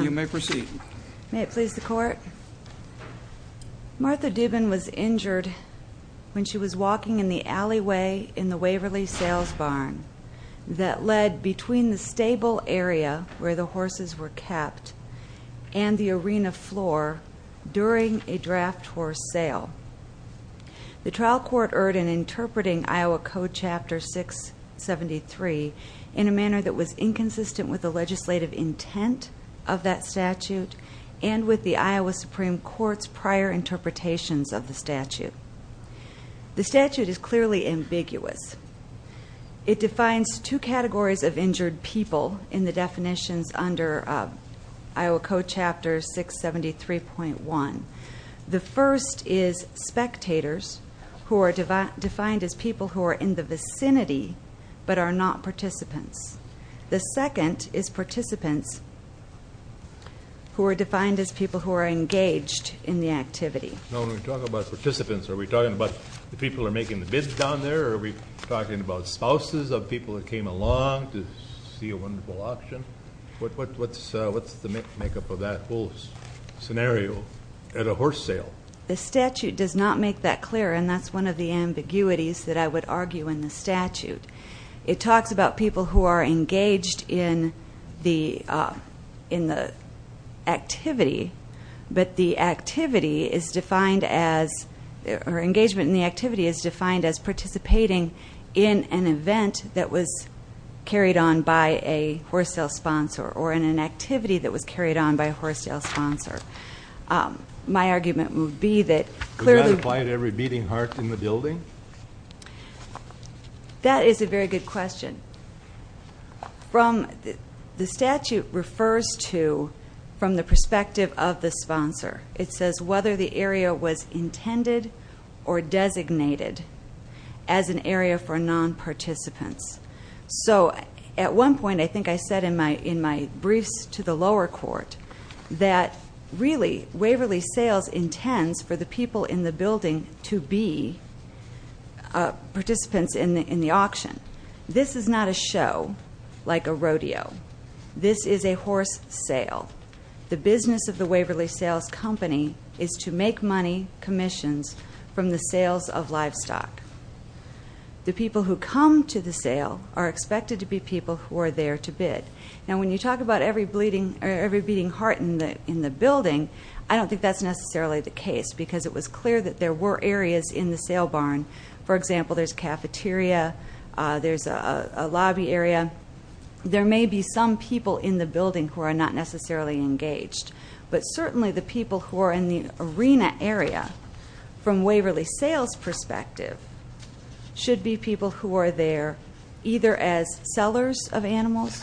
You may proceed. May it please the court. Martha Duban was injured when she was walking in the alleyway in the Waverly Sales Barn that led between the stable area where the horses were kept and the arena floor during a draft horse sale. The trial court erred in interpreting Iowa Code Chapter 673 in a manner that the legislative intent of that statute and with the Iowa Supreme Court's prior interpretations of the statute. The statute is clearly ambiguous. It defines two categories of injured people in the definitions under Iowa Code Chapter 673.1. The first is spectators who are defined as people who are in the vicinity but are not participants. The second is participants who are defined as people who are engaged in the activity. Now when we talk about participants are we talking about the people are making the bids down there? Are we talking about spouses of people that came along to see a wonderful auction? What's the makeup of that whole scenario at a horse sale? The statute does not make that clear and that's one of the ambiguities that I would argue in the statute. It talks about people who are engaged in the in the activity but the activity is defined as or engagement in the activity is defined as participating in an event that was carried on by a horse sale sponsor or in an activity that was carried on by a horse sale sponsor. My argument would be that clearly... That is a very good question. The statute refers to from the perspective of the sponsor. It says whether the area was intended or designated as an area for non-participants. So at one point I think I said in my in my briefs to the lower court that really Waverly Sales intends for the people in the building to be participants in the auction. This is not a show like a rodeo. This is a horse sale. The business of the Waverly Sales company is to make money commissions from the sales of livestock. The people who come to the sale are expected to be people who are there to bid. Now when you talk about every bleeding or every beating heart in the in the building I don't think that's necessarily the case because it was clear that there were areas in the sale barn. For example there's cafeteria, there's a lobby area. There may be some people in the building who are not necessarily engaged but certainly the people who are in the arena area from Waverly Sales perspective should be people who are there either as sellers of animals,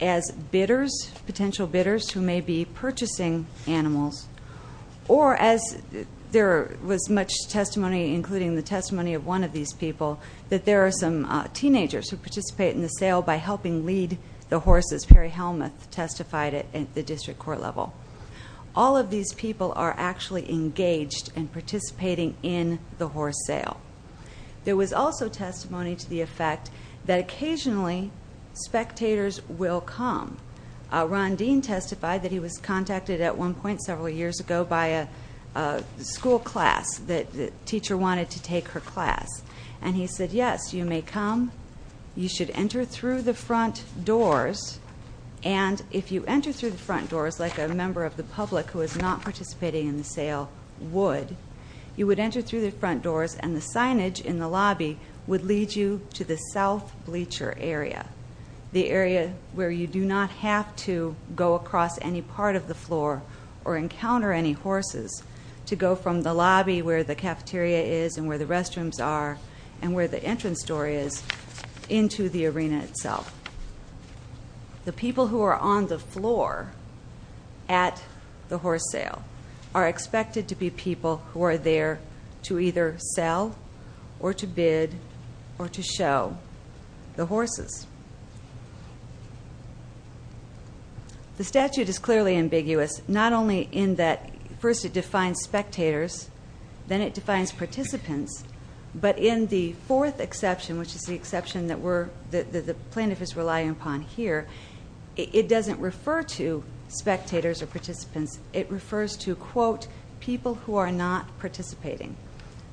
as or as there was much testimony including the testimony of one of these people that there are some teenagers who participate in the sale by helping lead the horses. Perry Helmuth testified it at the district court level. All of these people are actually engaged and participating in the horse sale. There was also testimony to the effect that occasionally spectators will come. Ron Dean testified that he was contacted at one point several years ago by a school class that the teacher wanted to take her class and he said yes you may come you should enter through the front doors and if you enter through the front doors like a member of the public who is not participating in the sale would you would enter through the front doors and the signage in the lobby would lead you to the south bleacher area. The area where you do not have to go across any part of the floor or encounter any horses to go from the lobby where the cafeteria is and where the restrooms are and where the entrance door is into the arena itself. The people who are on the floor at the horse sale are expected to be people who are there to either sell or to bid or to show the horses. The statute is clearly ambiguous not only in that first it defines spectators then it defines participants but in the fourth exception which is the exception that the plaintiff is relying upon here it doesn't refer to spectators or who are not participating.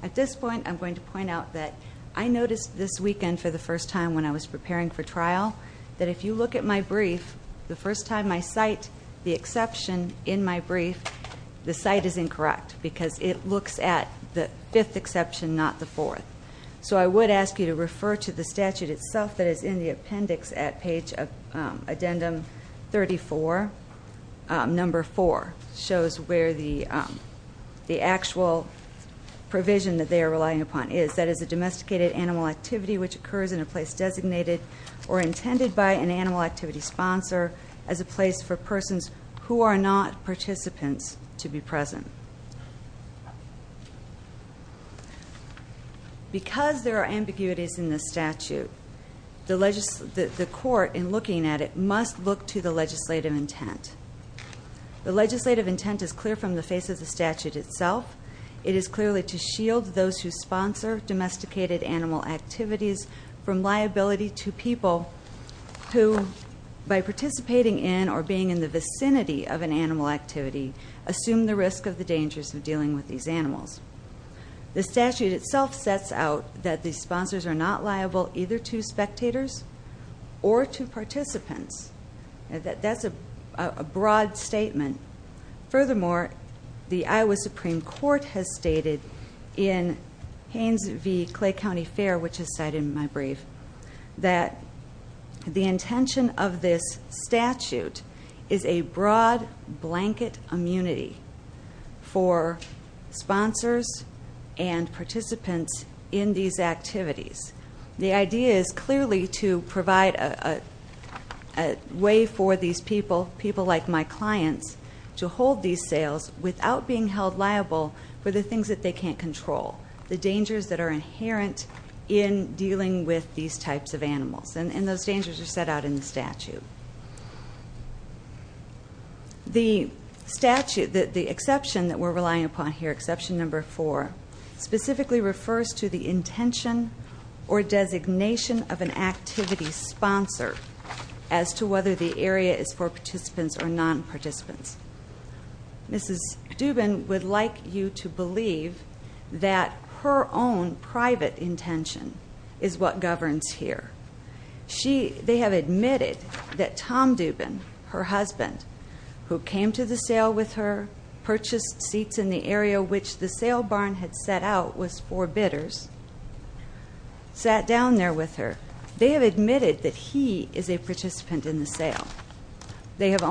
At this point I'm going to point out that I noticed this weekend for the first time when I was preparing for trial that if you look at my brief the first time I cite the exception in my brief the site is incorrect because it looks at the fifth exception not the fourth so I would ask you to refer to the statute itself that is in the appendix at page of addendum 34 number 4 shows where the the actual provision that they are relying upon is that is a domesticated animal activity which occurs in a place designated or intended by an animal activity sponsor as a place for persons who are not participants to be present. Because there are ambiguities in this statute the the court in looking at it must look to the legislative intent. The legislative intent is clear from the face of the statute itself it is clearly to shield those who sponsor domesticated animal activities from liability to people who by participating in or being in the vicinity of an animal activity assume the risk of the dangers of dealing with these animals. The statute itself sets out that the sponsors are not liable either to spectators or to participants. That's a broad statement. Furthermore the Iowa Supreme Court has stated in Haynes v. Clay County Fair which is cited in my brief that the intention of this statute is a broad blanket immunity for sponsors and participants in these activities. The idea is clearly to provide a way for these people people like my clients to hold these sales without being held liable for the things that they can't control. The dangers that are inherent in dealing with these types of animals and those dangers are set out in the statute. The statute that the exception that we're relying upon here exception number four specifically refers to the intention or designation of an activity sponsor as to whether the area is for participants or non-participants. Mrs. Dubin would like you to believe that her own private intention is what governs here. They have admitted that Tom Dubin, her husband, who came to the sale with her, purchased seats in the area which the sale barn had set out was for bidders, sat down there with her. They have admitted that he is a participant in the bid.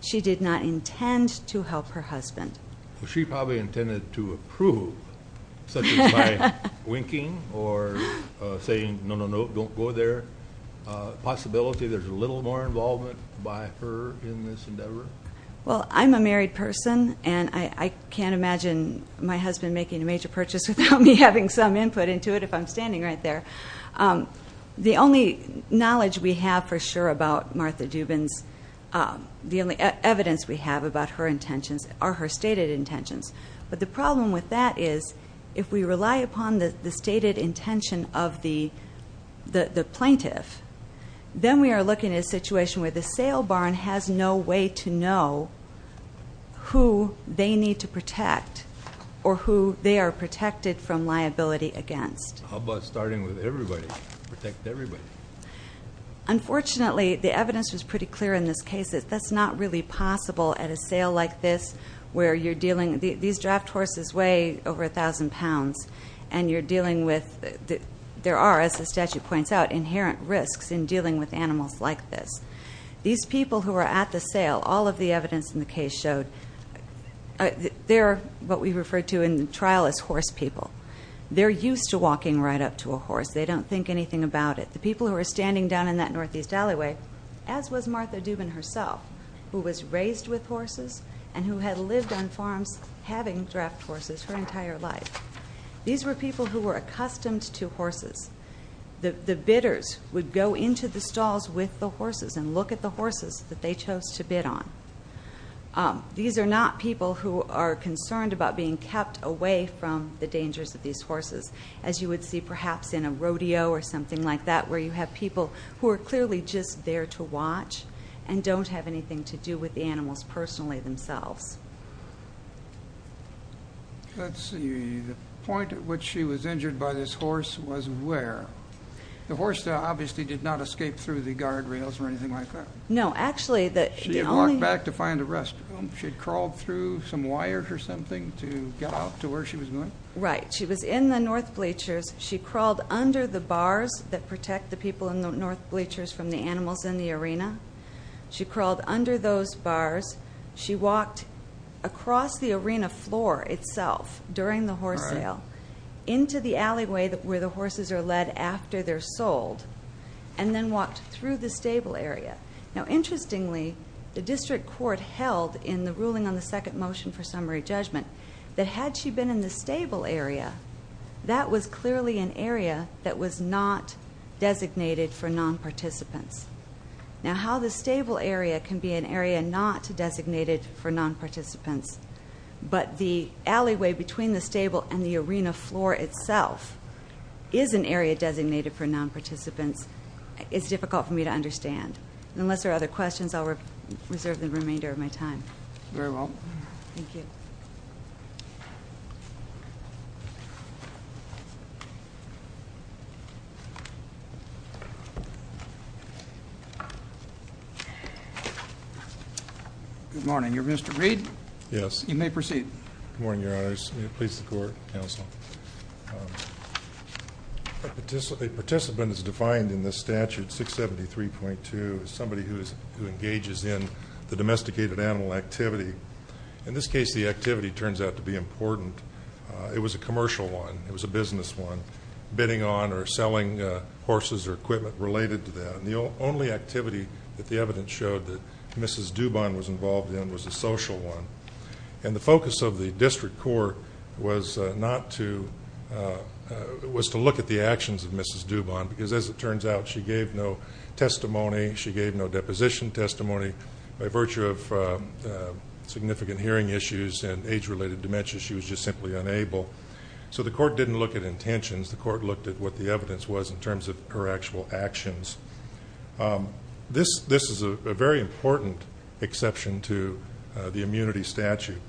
She did not intend to help her husband. She probably intended to approve such as by winking or saying no no no don't go there. Possibility there's a little more involvement by her in this endeavor? Well I'm a married person and I can't imagine my husband making a major purchase without me having some input into it if I'm standing right there. The only knowledge we have for sure about Martha Dubin's the only evidence we have about her intentions are her stated intentions but the problem with that is if we rely upon the stated intention of the the plaintiff then we are looking at a situation where the sale barn has no way to know who they need to protect or who they are protected from liability against. How about starting with everybody? Unfortunately the evidence was pretty clear in this case that that's not really possible at a sale like this where you're dealing these draft horses weigh over a thousand pounds and you're dealing with the there are as the statute points out inherent risks in dealing with animals like this. These people who are at the sale all of the evidence in the case showed they're what we referred to in the trial as horse people. They're used to walking right up to a horse they don't think anything about it. The people who are standing down in that Northeast alleyway as was Martha Dubin herself who was raised with horses and who had lived on farms having draft horses her entire life. These were people who were accustomed to horses. The bidders would go into the stalls with the horses and look at the horses that they chose to bid on. These are not people who are concerned about being kept away from the dangers of these horses. As you would see perhaps in a rodeo or something like that where you have people who are clearly just there to watch and don't have anything to do with the animals personally themselves. Let's see, the point at which she was injured by this horse was where? The horse obviously did not escape through the guardrails or anything like that. No, actually the only... She had walked back to find a restroom. She had crawled through some barriers or something to get out to where she was going? Right, she was in the North bleachers. She crawled under the bars that protect the people in the North bleachers from the animals in the arena. She crawled under those bars. She walked across the arena floor itself during the horse sale into the alleyway where the horses are led after they're sold and then walked through the stable area. Now interestingly the district court held in the ruling on the temporary judgment that had she been in the stable area that was clearly an area that was not designated for non-participants. Now how the stable area can be an area not designated for non-participants but the alleyway between the stable and the arena floor itself is an area designated for non-participants is difficult for me to understand. Unless there are other questions at this point in time. Very well. Thank you. Good morning. You're Mr. Reed? Yes. You may proceed. Good morning, Your Honors. May it please the court, counsel. A participant is defined in the statute 673.2 as somebody who engages in the domesticated animal activity. In this case the activity turns out to be important. It was a commercial one. It was a business one. Bidding on or selling horses or equipment related to that. The only activity that the evidence showed that Mrs. Dubon was involved in was a social one. And the focus of the district court was not to, was to look at the actions of testimony. She gave no deposition testimony by virtue of significant hearing issues and age-related dementia. She was just simply unable. So the court didn't look at intentions. The court looked at what the evidence was in terms of her actual actions. This is a very important exception to the immunity statute.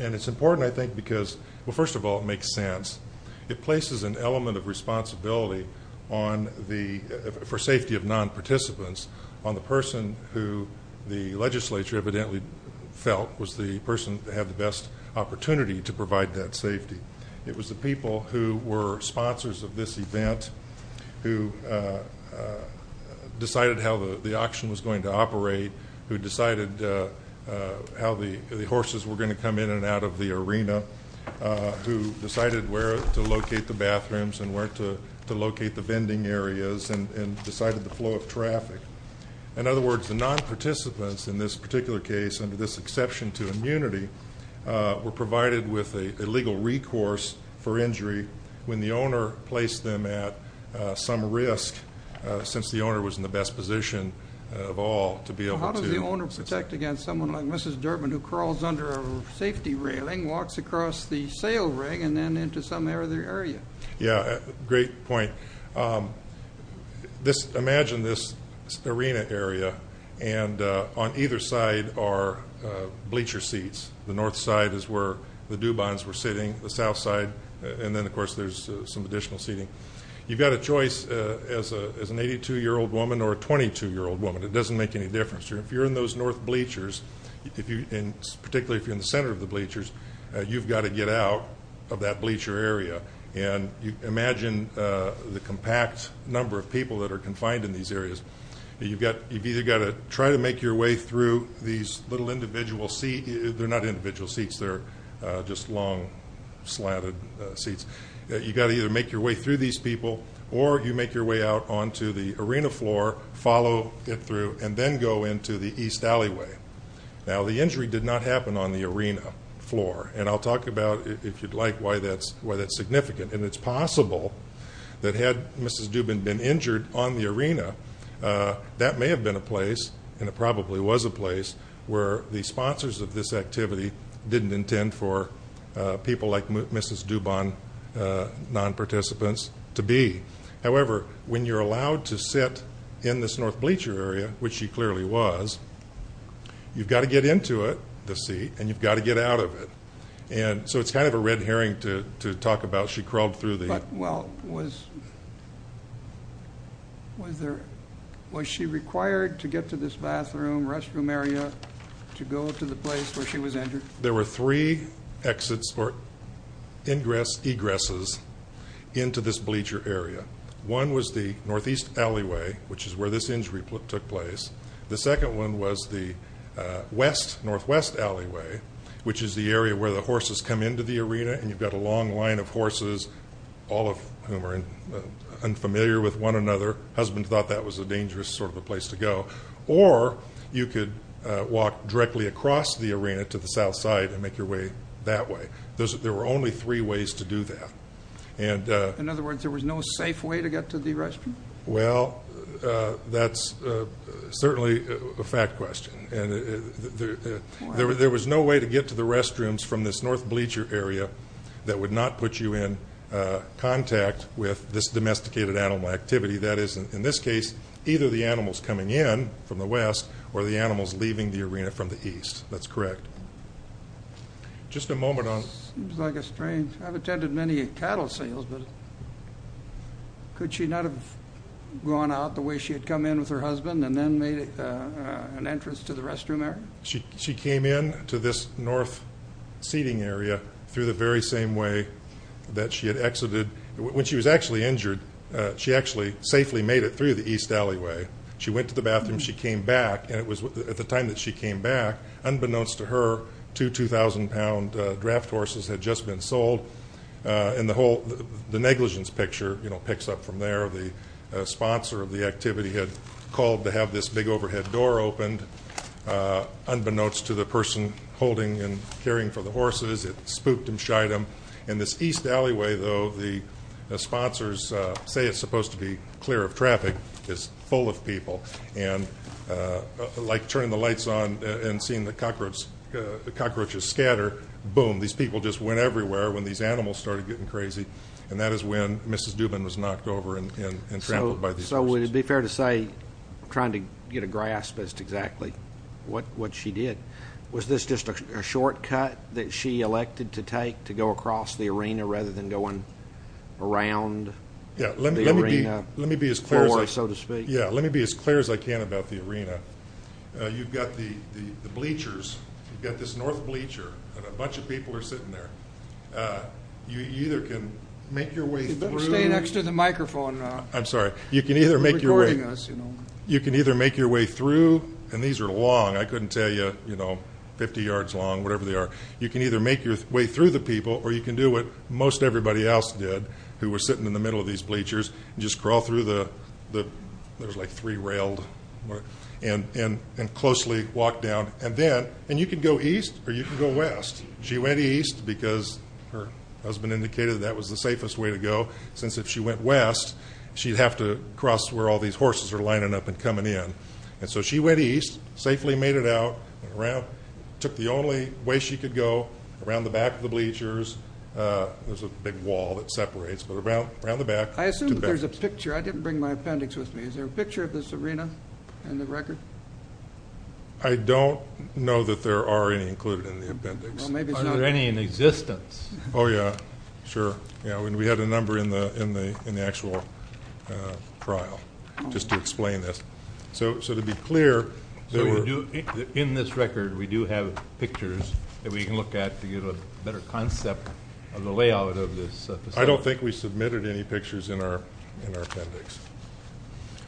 And it's important I think because, well first of all, it makes sense. It places an element of responsibility on the, for safety of non-participants, on the person who the legislature evidently felt was the person that had the best opportunity to provide that safety. It was the people who were sponsors of this event, who decided how the auction was going to operate, who decided how the to locate the bathrooms and where to locate the vending areas, and decided the flow of traffic. In other words, the non-participants in this particular case under this exception to immunity were provided with a legal recourse for injury when the owner placed them at some risk, since the owner was in the best position of all to be able to. How does the owner protect against someone like Mrs. Durbin who crawls under a safety railing, walks across the sail rig, and then into some other area? Yeah, great point. This, imagine this arena area and on either side are bleacher seats. The north side is where the Dubons were sitting, the south side, and then of course there's some additional seating. You've got a choice as an 82 year old woman or a 22 year old woman. It doesn't make any difference. If you're in those north bleachers, if you, and particularly if you're in the center of the bleachers, you've got to get out of that bleacher area. And you imagine the compact number of people that are confined in these areas. You've either got to try to make your way through these little individual seats, they're not individual seats, they're just long slatted seats. You've got to either make your way through these people, or you make your way out onto the arena floor, follow it through, and then go into the East Alleyway. Now the injury did not happen on the arena floor, and I'll talk about, if you'd like, why that's significant. And it's possible that had Mrs. Dubon been injured on the arena, that may have been a place, and it probably was a place, where the sponsors of this activity didn't intend for people like Mrs. Dubon non-participants to be. However, when you're allowed to sit in this north bleacher area, which she clearly was, you've got to get into it, the seat, and you've got to get out of it. And so it's kind of a red herring to talk about, she crawled through the... But, well, was, was there, was she required to get to this bathroom, restroom area, to go to the place where she was injured? There were three exits, or ingress, egresses, into this bleacher area. One was the Northeast Alleyway, which is where this injury took place. The second one was the West, Northwest Alleyway, which is the area where the horses come into the arena, and you've got a long line of horses, all of whom are unfamiliar with one another. Husbands thought that was a dangerous sort of a place to go. Or, you could walk directly across the arena to the south side, and make your way that way. There were only three ways to do that. In other words, there was no safe way to get to the restroom? Well, that's certainly a fact question. There was no way to get to the restrooms from this north bleacher area that would not put you in contact with this domesticated animal activity. That is, in this case, either the animals coming in from the West, or the animals leaving the arena from the East. That's many cattle sales, but could she not have gone out the way she had come in with her husband, and then made it an entrance to the restroom area? She came in to this north seating area through the very same way that she had exited. When she was actually injured, she actually safely made it through the East Alleyway. She went to the bathroom, she came back, and it was at the time that she came back, unbeknownst to her, two 2,000-pound draft horses had just been sold. The negligence picture picks up from there. The sponsor of the activity had called to have this big overhead door opened, unbeknownst to the person holding and caring for the horses. It spooked and shied them. In this East Alleyway, though, the sponsors say it's supposed to be clear of traffic. It's full of people. Like turning the lights on and seeing the cockroaches scatter, boom, these people just went everywhere when these animals started getting crazy, and that is when Mrs. Dubin was knocked over and trampled by these horses. So would it be fair to say, I'm trying to get a grasp as to exactly what she did, was this just a shortcut that she elected to take to go across the arena rather than going around the arena floor, so to speak? Yeah, let me be as clear as I can about the arena. You've got the bleachers, you've got the bleachers, and a bunch of people are sitting there. You either can make your way through... You'd better stay next to the microphone. I'm sorry. You can either make your way through, and these are long, I couldn't tell you, you know, 50 yards long, whatever they are. You can either make your way through the people, or you can do what most everybody else did, who were sitting in the middle of these bleachers, and just crawl through the... there's like three railed... and closely walk down. And then, and you can go east, or you can go west. She went east because her husband indicated that was the safest way to go, since if she went west, she'd have to cross where all these horses are lining up and coming in. And so she went east, safely made it out, went around, took the only way she could go, around the back of the bleachers. There's a big wall that separates, but around the back. I assume there's a picture. I didn't bring my appendix with me. Is there a know that there are any included in the appendix? Are there any in existence? Oh yeah, sure. Yeah, we had a number in the, in the, in the actual trial, just to explain this. So, so to be clear... In this record, we do have pictures that we can look at to get a better concept of the layout of this facility. I don't think we submitted any pictures in our, in our appendix.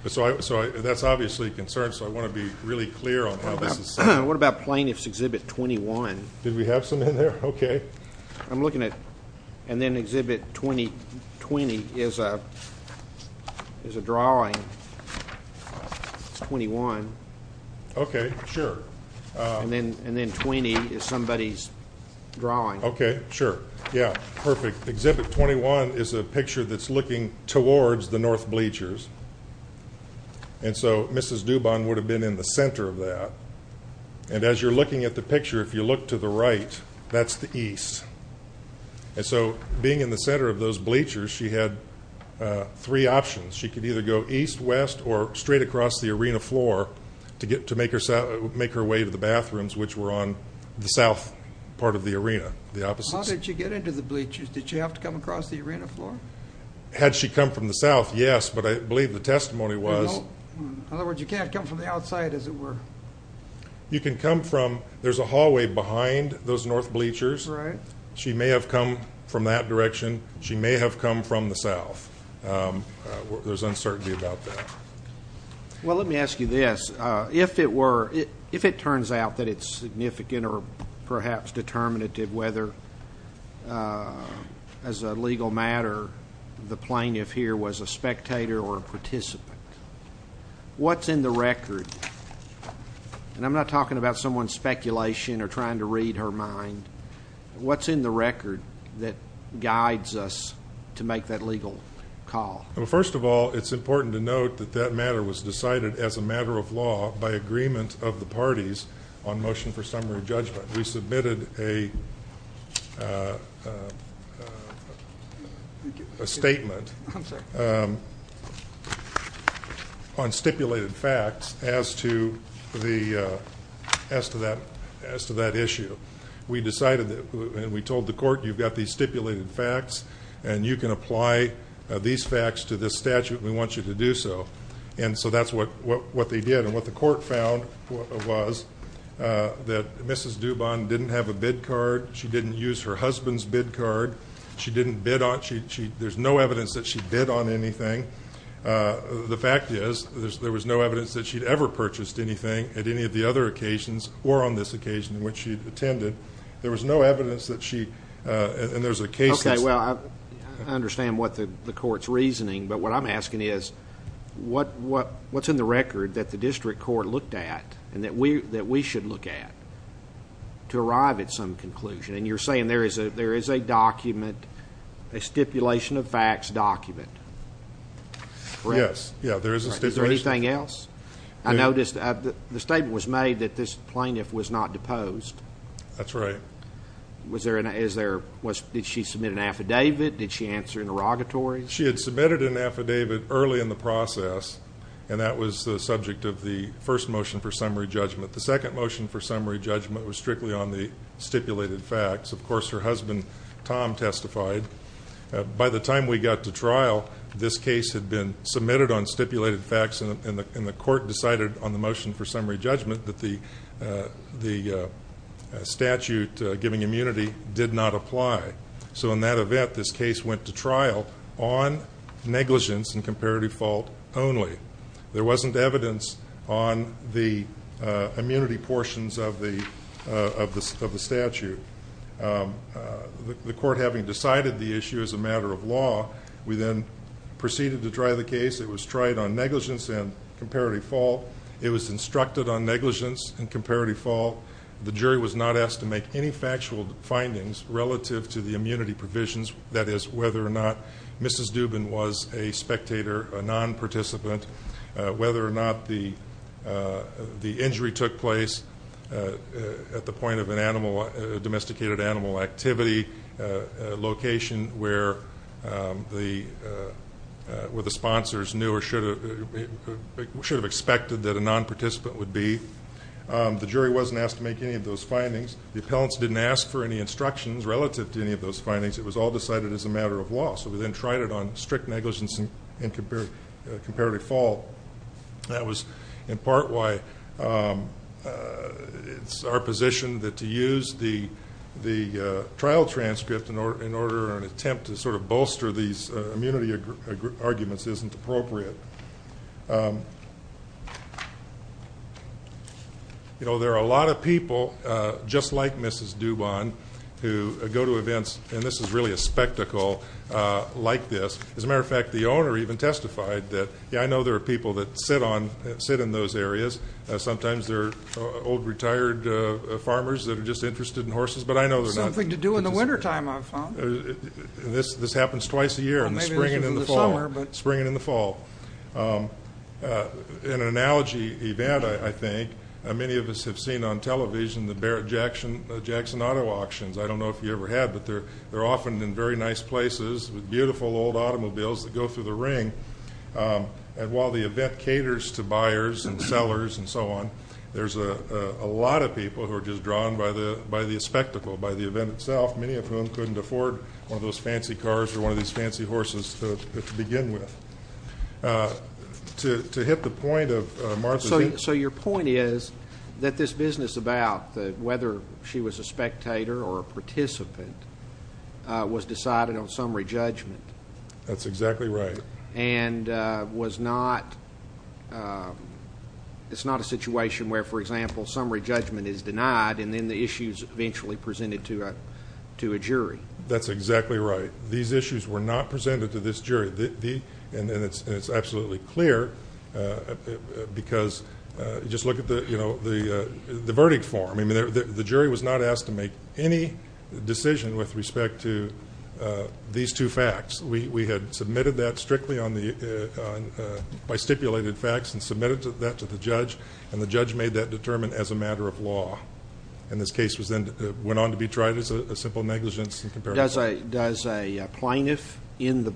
So I, so that's obviously concerned. So I want to be really clear on how this is set up. What about plaintiff's exhibit 21? Did we have some in there? Okay. I'm looking at, and then exhibit 20, 20 is a, is a drawing. It's 21. Okay, sure. And then, and then 20 is somebody's drawing. Okay, sure. Yeah, perfect. Exhibit 21 is a picture that's looking towards the north bleachers. And so Mrs. Dubon would have been in the center of that. And as you're looking at the picture, if you look to the right, that's the east. And so being in the center of those bleachers, she had three options. She could either go east, west, or straight across the arena floor to get, to make herself, make her way to the bathrooms, which were on the south part of the arena, the opposite. How did she get into the bleachers? Did she have to come across the arena floor? Had she come from the south, yes, but I believe the testimony was. In other words, you can't come from the outside, as it were. You can come from, there's a hallway behind those north bleachers. Right. She may have come from that direction. She may have come from the south. There's uncertainty about that. Well, let me ask you this. If it were, if it turns out that it's significant or perhaps determinative whether, as a legal matter, the plaintiff here was a spectator or a participant, what's in the record? And I'm not talking about someone's speculation or trying to read her mind. What's in the record that guides us to make that legal call? Well, first of all, it's important to note that that matter was decided as a matter of law by agreement of the parties on motion for summary judgment. We submitted a statement on stipulated facts as to that issue. We decided that, and we told the court, you've got these stipulated facts and you can apply these facts to this statute. We want you to do so. And so that's what they did and what the court found was that Mrs. Dubon didn't have a bid card. She didn't use her husband's bid card. She didn't bid on, there's no evidence that she bid on anything. The fact is, there was no evidence that she'd ever purchased anything at any of the other occasions or on this occasion in which she attended. There was no evidence that she, and there's a case. Okay, well, I understand what the court's reasoning, but what I'm asking is, what's in the record that the district court looked at, and that we should look at, to arrive at some conclusion? And you're saying there is a document, a stipulation of facts document, correct? Yes, yeah, there is a stipulation. Is there anything else? I noticed the statement was made that this plaintiff was not deposed. That's right. Did she submit an affidavit? Did she answer interrogatory? She had the first motion for summary judgment. The second motion for summary judgment was strictly on the stipulated facts. Of course, her husband, Tom, testified. By the time we got to trial, this case had been submitted on stipulated facts, and the court decided on the motion for summary judgment that the statute giving immunity did not apply. So in that event, this case went to trial on negligence and on the immunity portions of the statute. The court, having decided the issue as a matter of law, we then proceeded to try the case. It was tried on negligence and comparative fault. It was instructed on negligence and comparative fault. The jury was not asked to make any factual findings relative to the immunity provisions, that is, whether or not Mrs. Dubin was a spectator, a the injury took place at the point of a domesticated animal activity location where the sponsors knew or should have expected that a non-participant would be. The jury wasn't asked to make any of those findings. The appellants didn't ask for any instructions relative to any of those findings. It was all decided as a matter of law. So we then tried it on strict negligence and comparative fault. That was in part why it's our position that to use the trial transcript in order an attempt to sort of bolster these immunity arguments isn't appropriate. You know, there are a lot of people, just like Mrs. Dubin, who go to events, and this is really a spectacle, like this. As a matter of fact, the owner even testified that, yeah, I know there are people that sit in those areas. Sometimes they're old retired farmers that are just interested in horses, but I know they're not. Something to do in the wintertime, I've found. This happens twice a year, in the spring and in the fall. Spring and in the fall. An analogy event, I think, many of us have seen on television, the Barrett-Jackson auto auctions. I don't know if you ever had, but they're often in very nice places with beautiful old automobiles that go through the ring. And while the event caters to buyers and sellers and so on, there's a lot of people who are just drawn by the spectacle, by the event itself, many of whom couldn't afford one of those fancy cars or one of these fancy horses to begin with. To hit the point of Martha's... So your point is that this business about whether she was a spectator or a participant was decided on summary judgment. That's exactly right. And it's not a situation where, for example, summary judgment is denied and then the issues eventually presented to a jury. That's exactly right. These issues were not presented to this jury. And it's absolutely clear because just look at the verdict form. The jury was not asked to make any decision with respect to these two facts. We had submitted that strictly by stipulated facts and submitted that to the judge, and the judge made that determined as a matter of law. And this case went on to be tried as a simple negligence in comparison. Does a plaintiff in the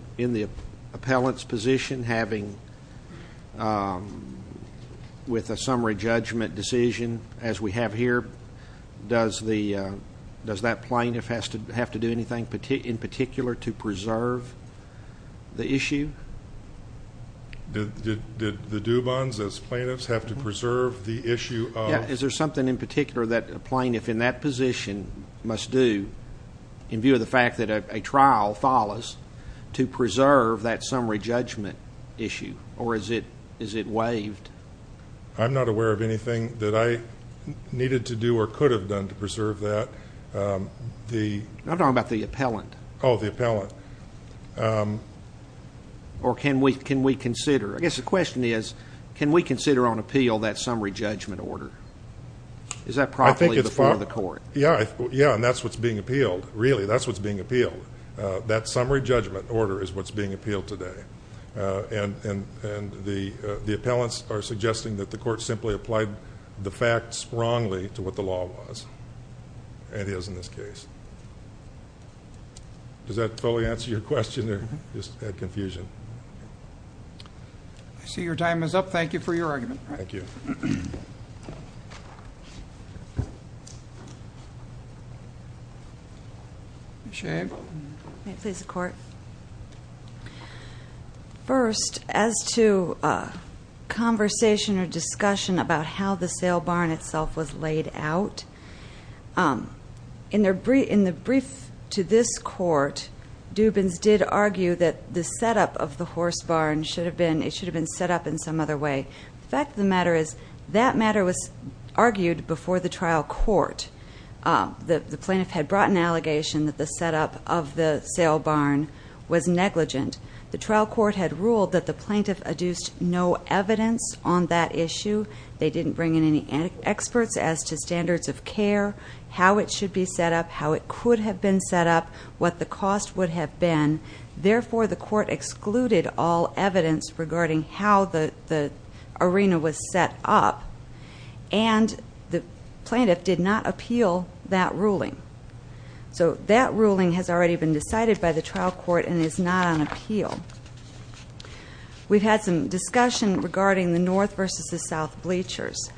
judgment decision, as we have here, does that plaintiff have to do anything in particular to preserve the issue? Did the Dubons, as plaintiffs, have to preserve the issue of... Yeah. Is there something in particular that a plaintiff in that position must do in view of the fact that a trial follows to preserve that summary judgment issue? Or is it waived? I'm not aware of anything that I needed to do or could have done to preserve that. I'm talking about the appellant. Oh, the appellant. Or can we consider? I guess the question is, can we consider on appeal that summary judgment order? Is that properly before the court? Yeah, and that's what's being appealed. Really, that's what's being appealed today. And the appellants are suggesting that the court simply applied the facts wrongly to what the law was. It is in this case. Does that fully answer your question or just add confusion? I see your time is up. Thank you for your argument. Thank you. First, as to conversation or discussion about how the sale barn itself was laid out, in the brief to this court, Dubons did argue that the setup of the horse barn should have been... It should have been set up. The fact of the matter is, that matter was argued before the trial court. The plaintiff had brought an allegation that the setup of the sale barn was negligent. The trial court had ruled that the plaintiff adduced no evidence on that issue. They didn't bring in any experts as to standards of care, how it should be set up, how it could have been set up, what the cost would have been. Therefore, the court excluded all evidence regarding how the arena was set up. And the plaintiff did not appeal that ruling. So that ruling has already been decided by the trial court and is not on appeal. We've had some discussion regarding the North versus the South bleachers.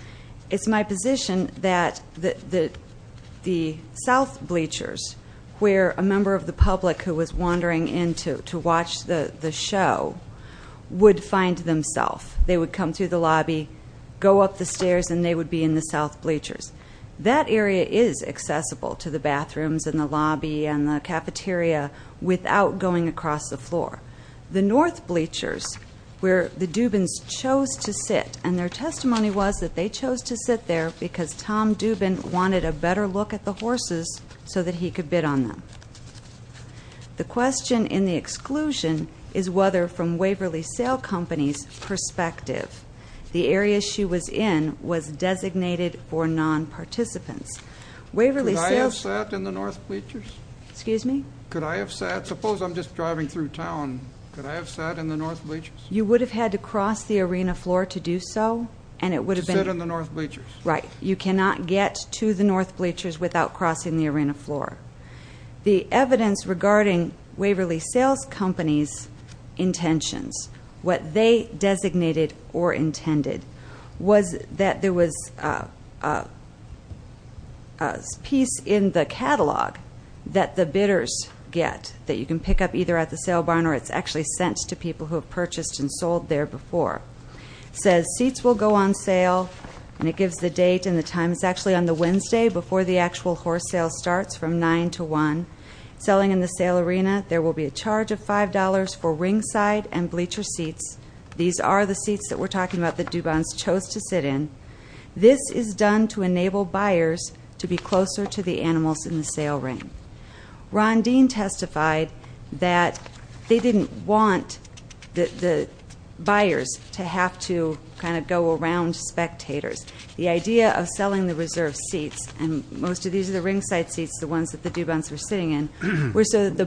It's my position that the South bleachers, where a member of the public who was themselves, they would come through the lobby, go up the stairs, and they would be in the South bleachers. That area is accessible to the bathrooms and the lobby and the cafeteria without going across the floor. The North bleachers, where the Dubons chose to sit, and their testimony was that they chose to sit there because Tom Dubon wanted a better look at the horses so that he could bid on them. The question in the exclusion is whether from Waverly Sale Companies perspective, the area she was in was designated for non-participants. Waverly Sales... Could I have sat in the North bleachers? Excuse me? Could I have sat, suppose I'm just driving through town, could I have sat in the North bleachers? You would have had to cross the arena floor to do so and it would have been... To sit in the North bleachers. Right. You cannot get to the North bleachers without crossing the arena floor. The evidence regarding Waverly Sales Companies intentions, what they designated or intended, was that there was a piece in the catalog that the bidders get that you can pick up either at the sale barn or it's actually sent to people who have purchased and sold there before. It says seats will go on sale and it gives the date and the time. It's actually on the Wednesday before the actual horse sale starts from 9 to 1. Selling in the sale arena, there will be these are the seats that we're talking about that Dubon's chose to sit in. This is done to enable buyers to be closer to the animals in the sale ring. Ron Dean testified that they didn't want the buyers to have to kind of go around spectators. The idea of selling the reserve seats and most of these are the ringside seats, the ones that the Dubon's were sitting in, were so that the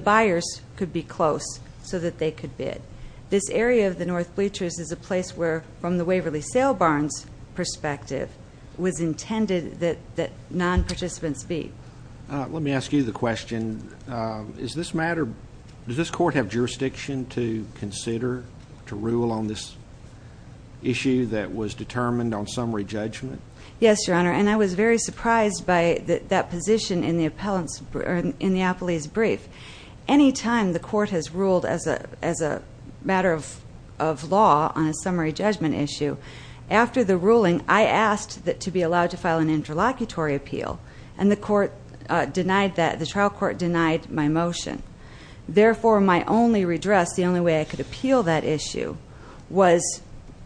North bleachers is a place where, from the Waverly Sale Barn's perspective, was intended that non-participants be. Let me ask you the question, does this matter, does this court have jurisdiction to consider, to rule on this issue that was determined on summary judgment? Yes, your honor, and I was very surprised by that position in the appellant's, in the appellee's brief. Anytime the court has a rule of law on a summary judgment issue, after the ruling I asked that to be allowed to file an interlocutory appeal and the court denied that, the trial court denied my motion. Therefore, my only redress, the only way I could appeal that issue, was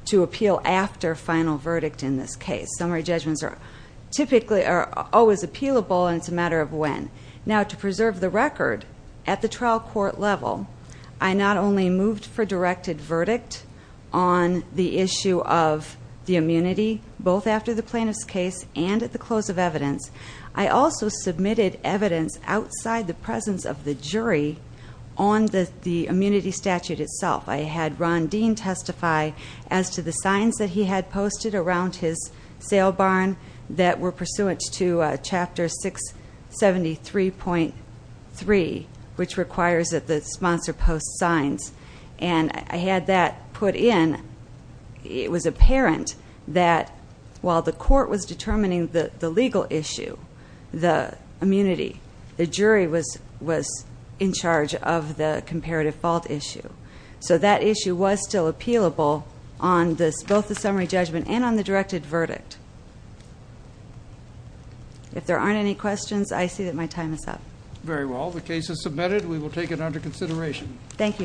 to appeal after final verdict in this case. Summary judgments are typically, are always appealable and it's a matter of when. Now to preserve the record, at the trial court level, I not only moved for verdict on the issue of the immunity, both after the plaintiff's case and at the close of evidence, I also submitted evidence outside the presence of the jury on the immunity statute itself. I had Ron Dean testify as to the signs that he had posted around his sale barn that were pursuant to chapter 673.3, which requires that the sponsor post signs and I had that put in. It was apparent that while the court was determining the legal issue, the immunity, the jury was in charge of the comparative fault issue. So that issue was still appealable on this, both the summary judgment and on the directed verdict. If there aren't any questions, I see that my time is up. Very well, the case is submitted. We will take it under consideration. Thank